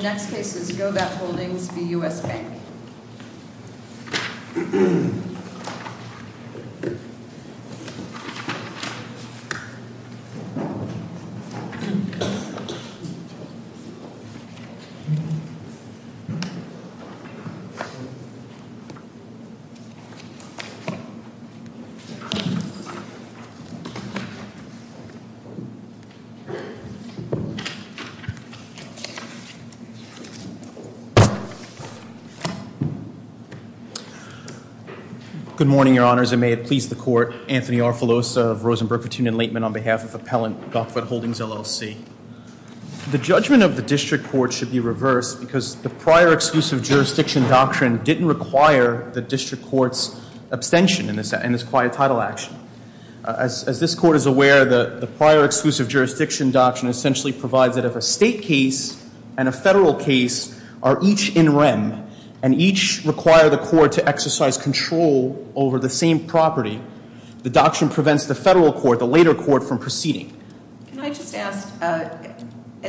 The next case is Gokhvat Holdings v. U.S. Bank Good morning, Your Honors, and may it please the Court. Anthony Arfilosa of Rosenberg Petunia Laitman on behalf of Appellant Gokhvat Holdings LLC. The judgment of the District Court should be reversed because the prior exclusive jurisdiction doctrine didn't require the District Court's abstention in this quiet title action. As this Court is aware, the prior exclusive jurisdiction doctrine essentially provides that if a State case and a Federal case are each in rem and each require the Court to exercise control over the same property, the doctrine prevents the Federal Court, the later Court, from proceeding. Can I just ask, at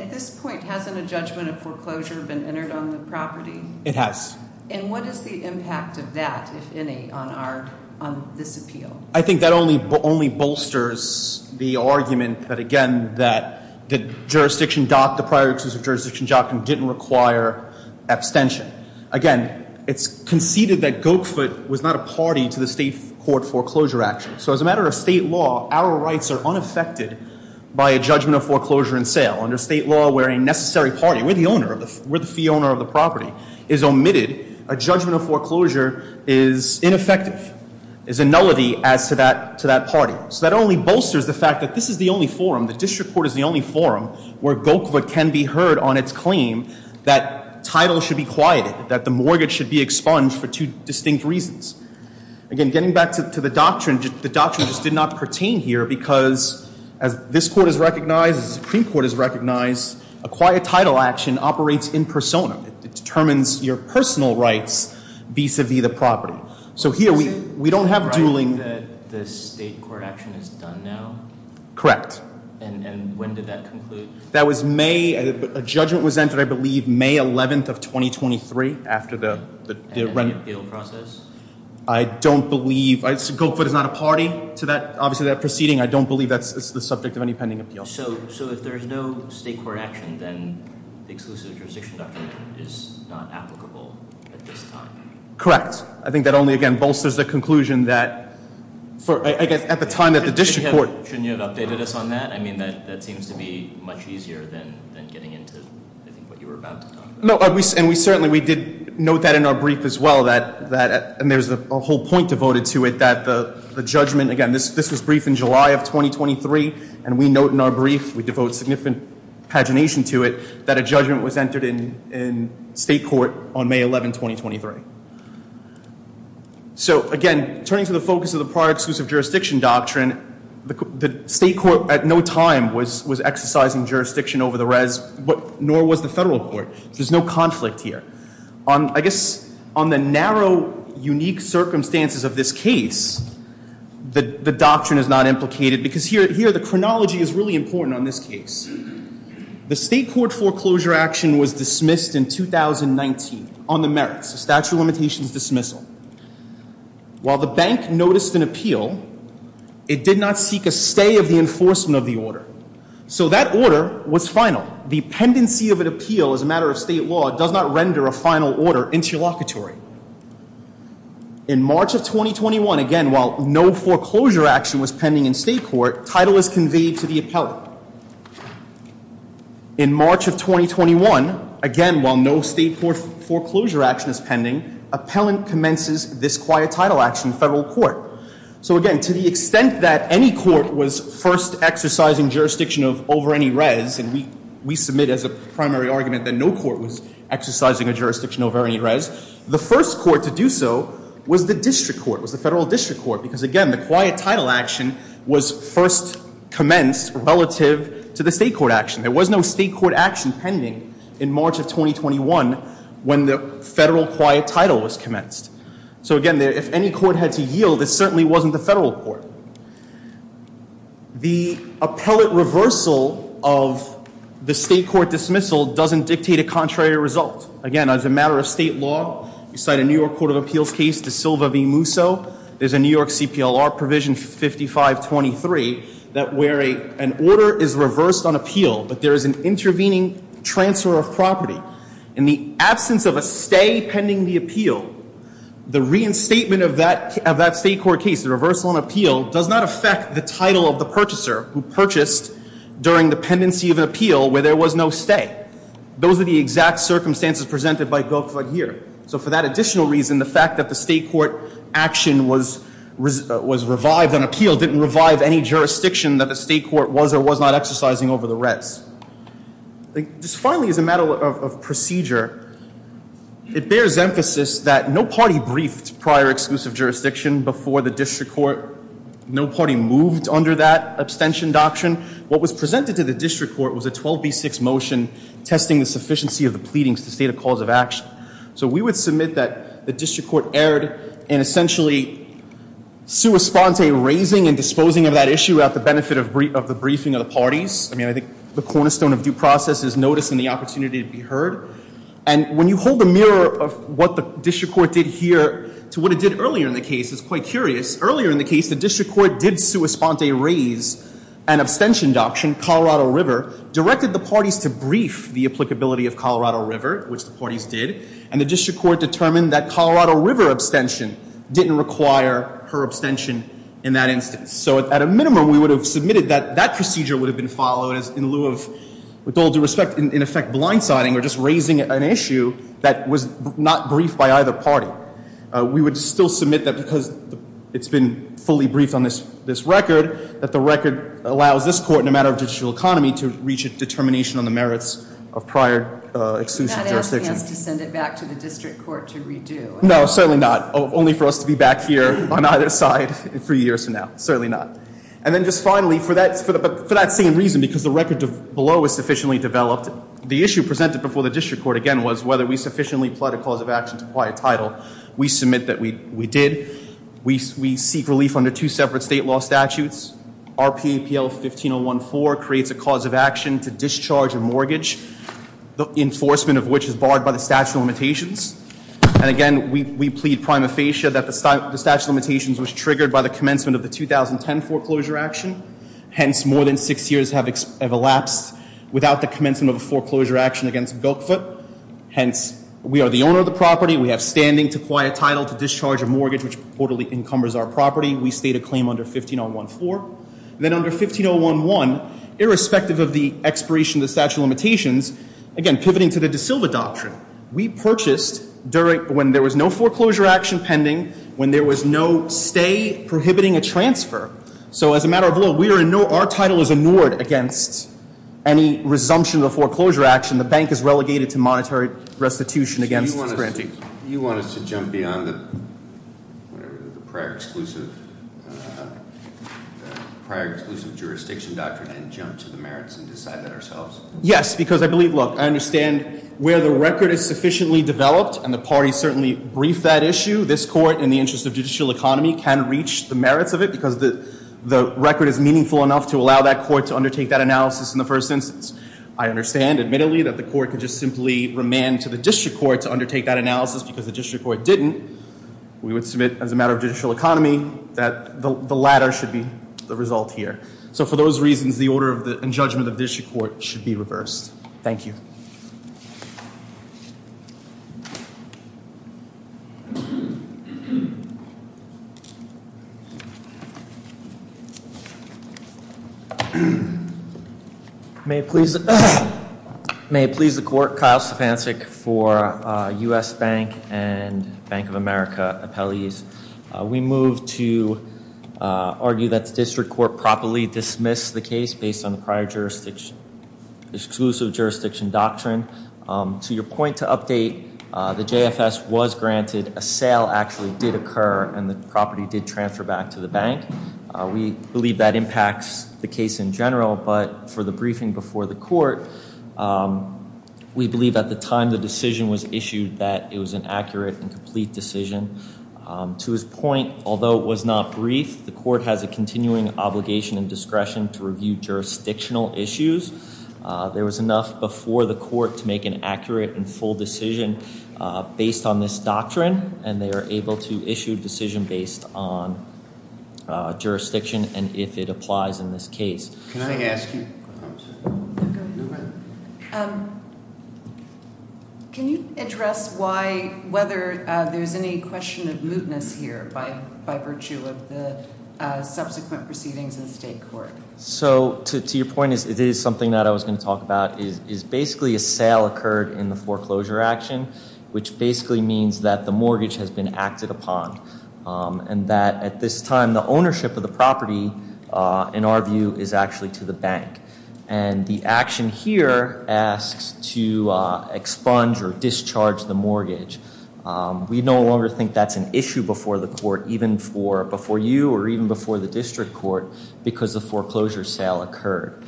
this point, hasn't a judgment of foreclosure been entered on the property? It has. And what is the impact of that, if any, on our, on this appeal? I think that only bolsters the argument that, again, that the jurisdiction doctrine, the District Court, doesn't require abstention. Again, it's conceded that Gokhvat was not a party to the State Court foreclosure action. So as a matter of State law, our rights are unaffected by a judgment of foreclosure in sale. Under State law, where a necessary party, where the owner, where the fee owner of the property is omitted, a judgment of foreclosure is ineffective, is a nullity as to that, to that party. So that only bolsters the fact that this is the only forum, the District Court is the only forum, where Gokhvat can be heard on its claim that title should be quieted, that the mortgage should be expunged for two distinct reasons. Again, getting back to the doctrine, the doctrine just did not pertain here because, as this Court has recognized, as the Supreme Court has recognized, a quiet title action operates in persona. It determines your personal rights vis-a-vis the property. So here, we don't have dueling. So you're saying that the State court action is done now? Correct. And when did that conclude? That was May, a judgment was entered, I believe, May 11th of 2023, after the rent. And the appeal process? I don't believe, Gokhvat is not a party to that, obviously, that proceeding. I don't believe that's the subject of any pending appeal. So, if there's no State court action, then the exclusive jurisdiction doctrine is not applicable at this time? Correct. I think that only, again, bolsters the conclusion that, at the time that the District Court Shouldn't you have updated us on that? I mean, that seems to be much easier than getting into, I think, what you were about to talk about. No, and we certainly, we did note that in our brief as well, that, and there's a whole point devoted to it, that the judgment, again, this was briefed in July of 2023, and we note in our brief, we devote significant pagination to it, that a judgment was entered in State court on May 11th, 2023. So, again, turning to the focus of the prior exclusive jurisdiction doctrine, the State court, at no time, was exercising jurisdiction over the res, nor was the Federal court. There's no conflict here. I guess, on the narrow, unique circumstances of this case, the doctrine is not implicated, because here, the chronology is really important on this case. The State court foreclosure action was dismissed in 2019 on the merits, the statute of limitations dismissal. While the bank noticed an appeal, it did not seek a stay of the enforcement of the order, so that order was final. The pendency of an appeal, as a matter of State law, does not render a final order interlocutory. In March of 2021, again, while no foreclosure action was pending in State court, title was In March of 2021, again, while no State court foreclosure action is pending, appellant commences this quiet title action in Federal court. So again, to the extent that any court was first exercising jurisdiction over any res, and we submit as a primary argument that no court was exercising a jurisdiction over any res, the first court to do so was the district court, was the Federal district court, because again, the quiet title action was first commenced relative to the State court action. There was no State court action pending in March of 2021 when the Federal quiet title was commenced. So again, if any court had to yield, it certainly wasn't the Federal court. The appellate reversal of the State court dismissal doesn't dictate a contrary result. Again, as a matter of State law, you cite a New York Court of Appeals case, De Silva v. Musso. There's a New York CPLR provision 5523 that where an order is reversed on appeal, but there is an intervening transfer of property in the absence of a stay pending the appeal. The reinstatement of that State court case, the reversal on appeal, does not affect the title of the purchaser who purchased during the pendency of an appeal where there was no stay. Those are the exact circumstances presented by Goldfled here. So for that additional reason, the fact that the State court action was revived on appeal, didn't revive any jurisdiction that the State court was or was not exercising over the res. Just finally, as a matter of procedure, it bears emphasis that no party briefed prior exclusive jurisdiction before the district court. No party moved under that abstention doctrine. What was presented to the district court was a 12B6 motion testing the sufficiency of the pleadings to state a cause of action. So we would submit that the district court erred in essentially sua sponte raising and disposing of that issue at the benefit of the briefing of the parties. I mean, I think the cornerstone of due process is notice and the opportunity to be heard. And when you hold the mirror of what the district court did here to what it did earlier in the case, it's quite curious. Earlier in the case, the district court did sua sponte raise an abstention doctrine, Colorado River, directed the parties to brief the applicability of Colorado River, which the parties did. And the district court determined that Colorado River abstention didn't require her abstention in that instance. So at a minimum, we would have submitted that that procedure would have been followed in lieu of, with all due respect, in effect blindsiding or just raising an issue that was not briefed by either party. We would still submit that because it's been fully briefed on this record, that the record allows this court in a matter of judicial economy to reach a determination on the merits of prior exclusive jurisdiction. Not asking us to send it back to the district court to redo. No, certainly not, only for us to be back here on either side in three years from now, certainly not. And then just finally, for that same reason, because the record below was sufficiently developed, the issue presented before the district court again was whether we sufficiently plied a cause of action to apply a title. We submit that we did. We seek relief under two separate state law statutes. RPAPL 15014 creates a cause of action to discharge a mortgage. The enforcement of which is barred by the statute of limitations. And again, we plead prima facie that the statute of limitations was triggered by the commencement of the 2010 foreclosure action. Hence, more than six years have elapsed without the commencement of a foreclosure action against Bilkfoot. Hence, we are the owner of the property. We have standing to acquire title to discharge a mortgage which purportedly encumbers our property. We state a claim under 15014. Then under 15011, irrespective of the expiration of the statute of limitations, again, pivoting to the De Silva doctrine. We purchased when there was no foreclosure action pending, when there was no stay prohibiting a transfer. So as a matter of law, our title is ignored against any resumption of the foreclosure action. And the bank is relegated to monetary restitution against this granting. You want us to jump beyond the prior exclusive jurisdiction doctrine and jump to the merits and decide that ourselves? Yes, because I believe, look, I understand where the record is sufficiently developed, and the party certainly briefed that issue. This court, in the interest of judicial economy, can reach the merits of it because the record is meaningful enough to allow that court to undertake that analysis in the first instance. I understand, admittedly, that the court could just simply remand to the district court to undertake that analysis because the district court didn't. We would submit, as a matter of judicial economy, that the latter should be the result here. So for those reasons, the order and judgment of district court should be reversed. Thank you. May it please the court, Kyle Sopancic for U.S. Bank and Bank of America appellees. We move to argue that the district court properly dismiss the case based on the prior jurisdiction, exclusive jurisdiction doctrine. To your point to update, the JFS was granted, a sale actually did occur, and the property did transfer back to the bank. We believe that impacts the case in general, but for the briefing before the court, we believe at the time the decision was issued that it was an accurate and complete decision. To his point, although it was not briefed, the court has a continuing obligation and discretion to review jurisdictional issues. There was enough before the court to make an accurate and full decision based on this doctrine, and they are able to issue a decision based on jurisdiction and if it applies in this case. Can I ask you? Go ahead. Can you address why, whether there's any question of mootness here by virtue of the subsequent proceedings in state court? So to your point, it is something that I was going to talk about, is basically a sale occurred in the foreclosure action, which basically means that the mortgage has been acted upon. And that at this time, the ownership of the property, in our view, is actually to the bank. And the action here asks to expunge or discharge the mortgage. We no longer think that's an issue before the court, even before you or even before the district court, because the foreclosure sale occurred.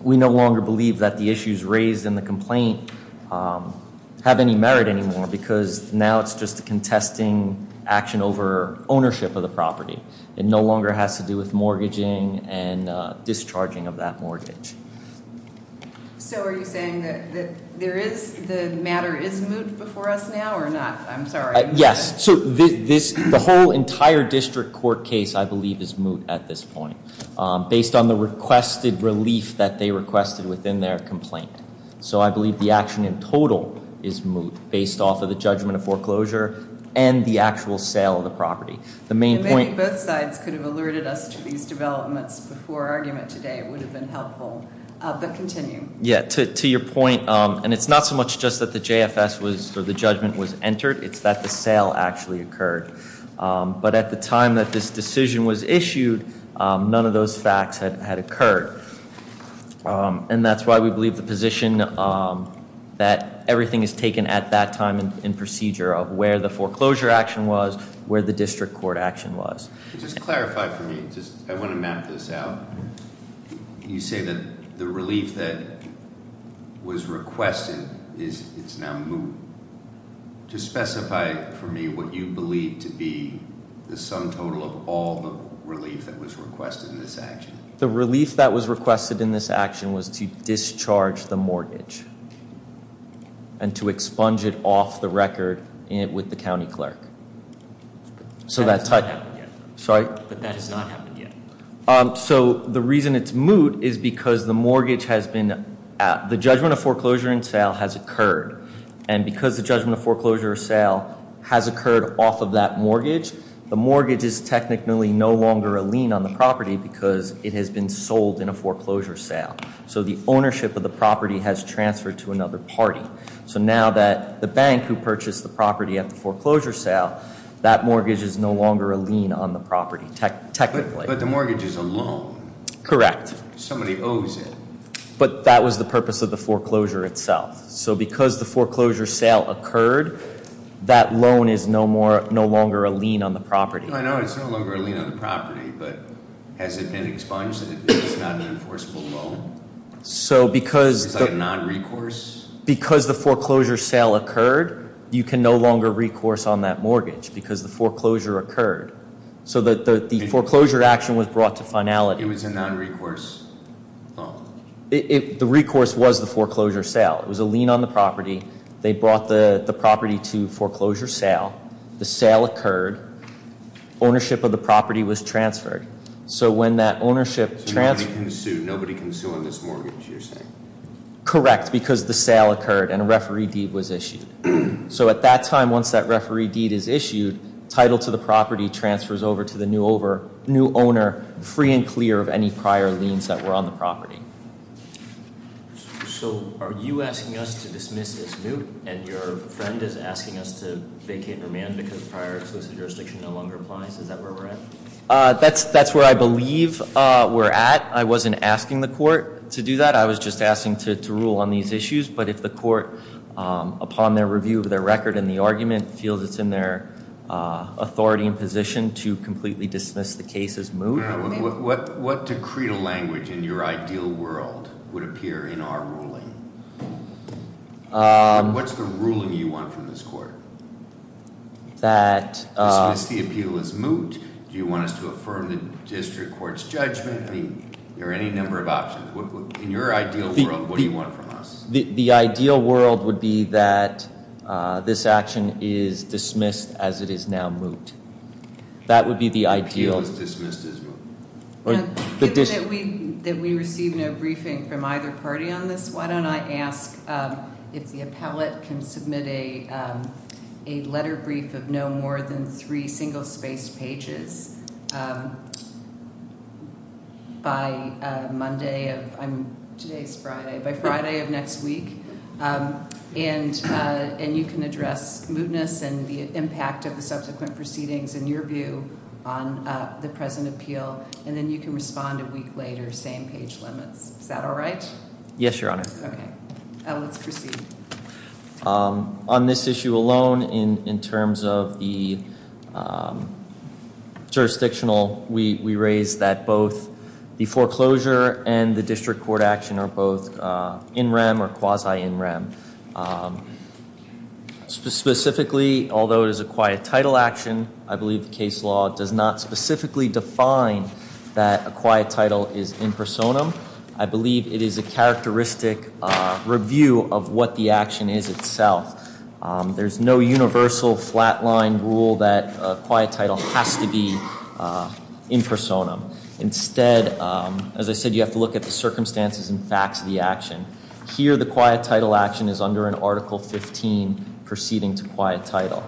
We no longer believe that the issues raised in the complaint have any merit anymore, because now it's just a contesting action over ownership of the property. It no longer has to do with mortgaging and discharging of that mortgage. So are you saying that the matter is moot before us now, or not? I'm sorry. Yes, so the whole entire district court case, I believe, is moot at this point, based on the requested relief that they requested within their complaint. So I believe the action in total is moot, based off of the judgment of foreclosure and the actual sale of the property. The main point- I think both sides could have alerted us to these developments before our argument today. It would have been helpful, but continue. Yeah, to your point, and it's not so much just that the JFS was, or the judgment was entered. It's that the sale actually occurred. But at the time that this decision was issued, none of those facts had occurred. And that's why we believe the position that everything is taken at that time and procedure of where the foreclosure action was, where the district court action was. Just clarify for me, I want to map this out. You say that the relief that was requested, it's now moot. Just specify for me what you believe to be the sum total of all the relief that was requested in this action. The relief that was requested in this action was to discharge the mortgage. And to expunge it off the record with the county clerk. So that- That has not happened yet. Sorry? That has not happened yet. So the reason it's moot is because the mortgage has been, the judgment of foreclosure and sale has occurred. And because the judgment of foreclosure sale has occurred off of that mortgage, the mortgage is technically no longer a lien on the property because it has been sold in a foreclosure sale. So the ownership of the property has transferred to another party. So now that the bank who purchased the property at the foreclosure sale, that mortgage is no longer a lien on the property, technically. But the mortgage is a loan. Correct. Somebody owes it. But that was the purpose of the foreclosure itself. So because the foreclosure sale occurred, that loan is no longer a lien on the property. I know it's no longer a lien on the property, but has it been expunged so that it's not an enforceable loan? So because- Is that a non-recourse? Because the foreclosure sale occurred, you can no longer recourse on that mortgage because the foreclosure occurred. So the foreclosure action was brought to finality. It was a non-recourse loan. The recourse was the foreclosure sale. It was a lien on the property. They brought the property to foreclosure sale. The sale occurred. Ownership of the property was transferred. So when that ownership transferred- So nobody can sue on this mortgage, you're saying? Correct, because the sale occurred and a referee deed was issued. So at that time, once that referee deed is issued, title to the property transfers over to the new owner, free and clear of any prior liens that were on the property. So are you asking us to dismiss this moot, and your friend is asking us to vacate and remand because prior exclusive jurisdiction no longer applies, is that where we're at? That's where I believe we're at. I wasn't asking the court to do that. I was just asking to rule on these issues. But if the court, upon their review of their record and the argument, feels it's in their authority and position to completely dismiss the case as moot. What decreed language in your ideal world would appear in our ruling? What's the ruling you want from this court? That- Dismiss the appeal as moot. Do you want us to affirm the district court's judgment? I mean, there are any number of options. In your ideal world, what do you want from us? The ideal world would be that this action is dismissed as it is now moot. That would be the ideal- Appeal is dismissed as moot. That we receive no briefing from either party on this. Why don't I ask if the appellate can submit a letter brief of no more than three single-spaced pages by Monday of, today's Friday, by Friday of next week. And you can address mootness and the impact of the subsequent proceedings in your view on the present appeal. And then you can respond a week later, same page limits. Is that all right? Yes, Your Honor. Okay. Let's proceed. On this issue alone, in terms of the jurisdictional, we raise that both the foreclosure and the district court action are both in rem or quasi in rem. Specifically, although it is a quiet title action, I believe the case law does not specifically define that a quiet title is in personam. I believe it is a characteristic review of what the action is itself. There's no universal flat line rule that a quiet title has to be in personam. Instead, as I said, you have to look at the circumstances and facts of the action. Here, the quiet title action is under an Article 15 proceeding to quiet title.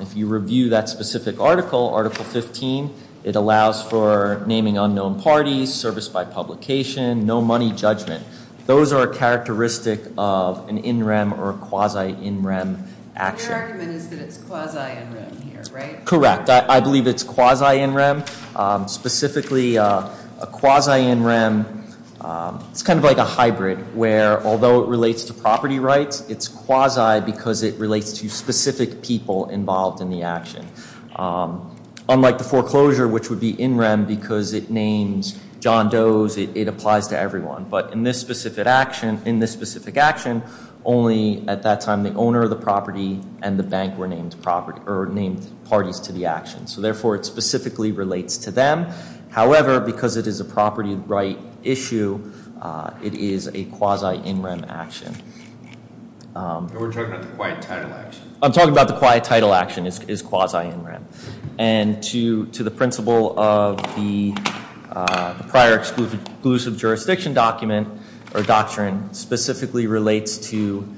If you review that specific article, Article 15, it allows for naming unknown parties, service by publication, no money judgment. Those are a characteristic of an in rem or a quasi in rem action. Your argument is that it's quasi in rem here, right? Correct, I believe it's quasi in rem. Specifically, a quasi in rem, it's kind of like a hybrid, where although it relates to property rights, it's quasi because it relates to specific people involved in the action. Unlike the foreclosure, which would be in rem because it names John Doe's, it applies to everyone. But in this specific action, only at that time the owner of the property and the bank were named parties to the action. So therefore, it specifically relates to them. However, because it is a property right issue, it is a quasi in rem action. We're talking about the quiet title action. I'm talking about the quiet title action is quasi in rem. And to the principle of the prior exclusive jurisdiction document or doctrine specifically relates to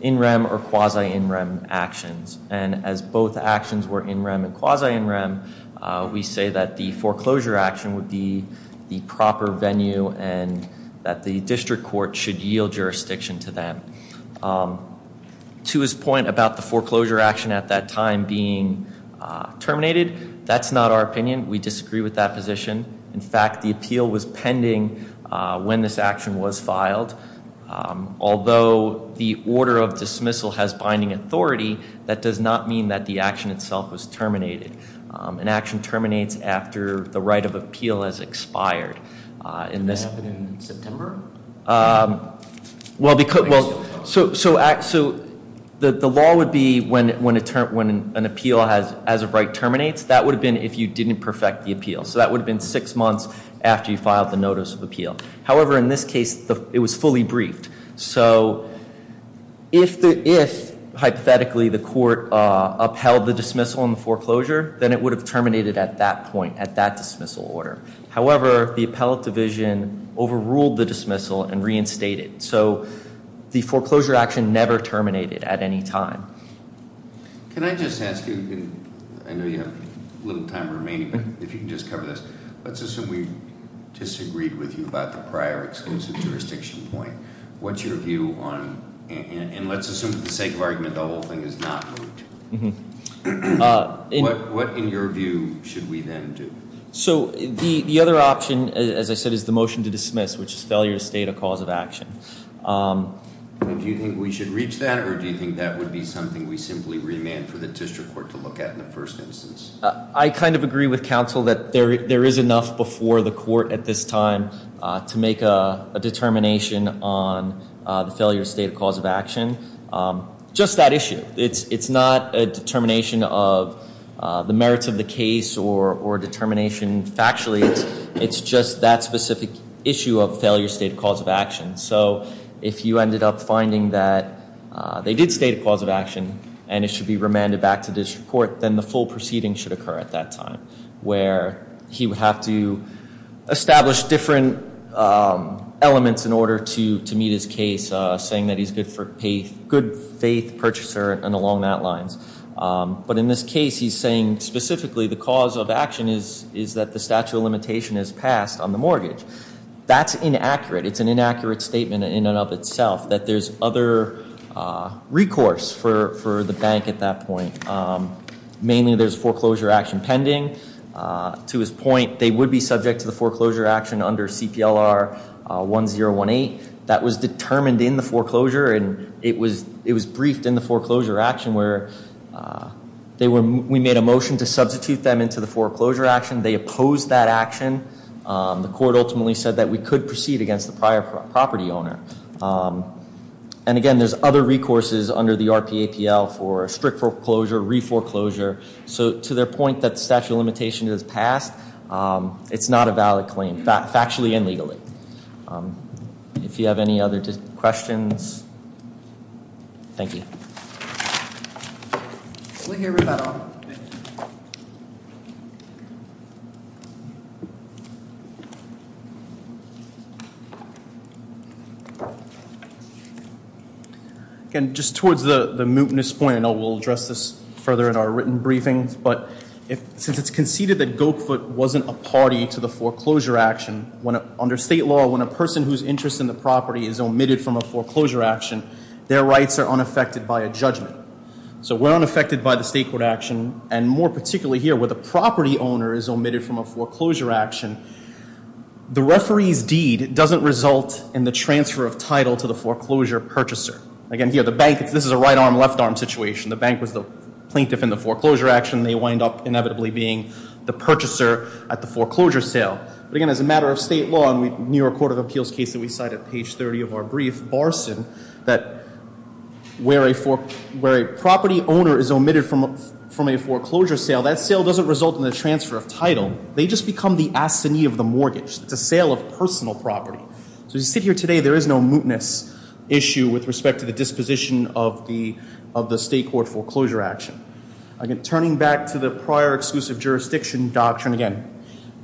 in rem or quasi in rem actions. And as both actions were in rem and quasi in rem, we say that the foreclosure action would be the proper venue and that the district court should yield jurisdiction to them. To his point about the foreclosure action at that time being terminated, that's not our opinion. We disagree with that position. In fact, the appeal was pending when this action was filed. Although the order of dismissal has binding authority, that does not mean that the action itself was terminated. An action terminates after the right of appeal has expired. In this- Did that happen in September? Well, so the law would be when an appeal as of right terminates. That would have been if you didn't perfect the appeal. So that would have been six months after you filed the notice of appeal. However, in this case, it was fully briefed. So if, hypothetically, the court upheld the dismissal and foreclosure, then it would have terminated at that point, at that dismissal order. However, the appellate division overruled the dismissal and reinstated. So the foreclosure action never terminated at any time. Can I just ask you, I know you have a little time remaining, but if you can just cover this. Let's assume we disagreed with you about the prior exclusive jurisdiction point. What's your view on, and let's assume for the sake of argument, the whole thing is not moved. What, in your view, should we then do? So the other option, as I said, is the motion to dismiss, which is failure to state a cause of action. Do you think we should reach that, or do you think that would be something we simply remand for the district court to look at in the first instance? I kind of agree with counsel that there is enough before the court at this time to make a determination on the failure state of cause of action. Just that issue. It's not a determination of the merits of the case or determination factually. It's just that specific issue of failure state of cause of action. So if you ended up finding that they did state a cause of action and it should be remanded back to district court, then the full proceeding should occur at that time. Where he would have to establish different elements in order to meet his case. Saying that he's a good faith purchaser and along that lines. But in this case, he's saying specifically the cause of action is that the statute of limitation is passed on the mortgage. That's inaccurate. It's an inaccurate statement in and of itself that there's other recourse for the bank at that point. Mainly there's foreclosure action pending. To his point, they would be subject to the foreclosure action under CPLR 1018. That was determined in the foreclosure and it was briefed in the foreclosure action. Where we made a motion to substitute them into the foreclosure action. They opposed that action. The court ultimately said that we could proceed against the prior property owner. And again, there's other recourses under the RPAPL for strict foreclosure, re-foreclosure. So to their point that the statute of limitation is passed, it's not a valid claim, factually and legally. If you have any other questions, thank you. We'll hear rebuttal. And just towards the mootness point, I know we'll address this further in our written briefings. But since it's conceded that Go-Foot wasn't a party to the foreclosure action, under state law, when a person whose interest in the property is omitted from a foreclosure action, their rights are unaffected by a judgment. So we're unaffected by the state court action, and more particularly here where the property owner is omitted from a foreclosure action. The referee's deed doesn't result in the transfer of title to the foreclosure purchaser. Again, here the bank, this is a right arm, left arm situation. The bank was the plaintiff in the foreclosure action, they wind up inevitably being the purchaser at the foreclosure sale. But again, as a matter of state law, in the New York Court of Appeals case that we cite at page 30 of our brief, Barson, that where a property owner is omitted from a foreclosure sale, that sale doesn't result in the transfer of title, they just become the assignee of the mortgage, it's a sale of personal property. So as we sit here today, there is no mootness issue with respect to the disposition of the state court foreclosure action. Again, turning back to the prior exclusive jurisdiction doctrine again.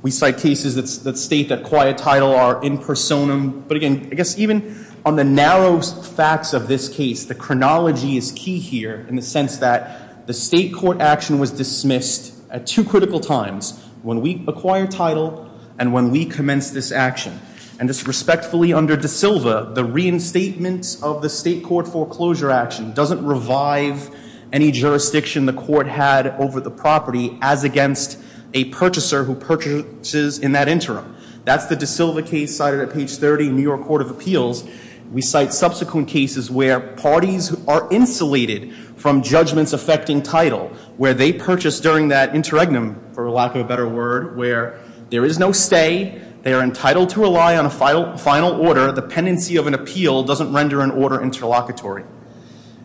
We cite cases that state that quiet title are in personam. But again, I guess even on the narrow facts of this case, the chronology is key here in the sense that the state court action was dismissed at two critical times, when we acquired title and when we commenced this action. And just respectfully under De Silva, the reinstatement of the state court foreclosure action doesn't revive any jurisdiction the court had over the property as against a purchaser who purchases in that interim. That's the De Silva case cited at page 30, New York Court of Appeals. We cite subsequent cases where parties are insulated from judgments affecting title, where they purchase during that interregnum, for lack of a better word, where there is no stay. They are entitled to rely on a final order. The pendency of an appeal doesn't render an order interlocutory.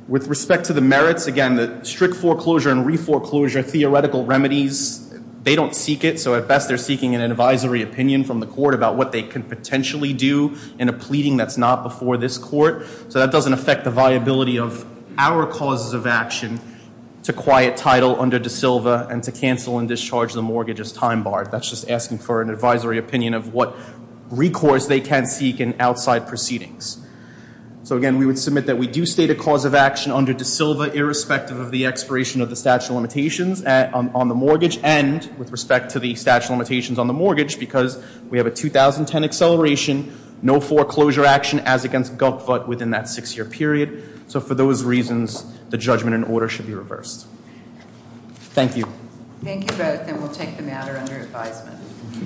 With respect to the merits, again, the strict foreclosure and re-foreclosure theoretical remedies, they don't seek it. So at best, they're seeking an advisory opinion from the court about what they can potentially do in a pleading that's not before this court. So that doesn't affect the viability of our causes of action to quiet title under De Silva and to cancel and discharge the mortgage as time barred. That's just asking for an advisory opinion of what recourse they can seek in outside proceedings. So again, we would submit that we do state a cause of action under De Silva irrespective of the expiration of the statute of limitations on the mortgage, and with respect to the statute of limitations on the mortgage, because we have a 2010 acceleration, no foreclosure action as against Gupvut within that six-year period. So for those reasons, the judgment and order should be reversed. Thank you. Thank you both, and we'll take the matter under advisement.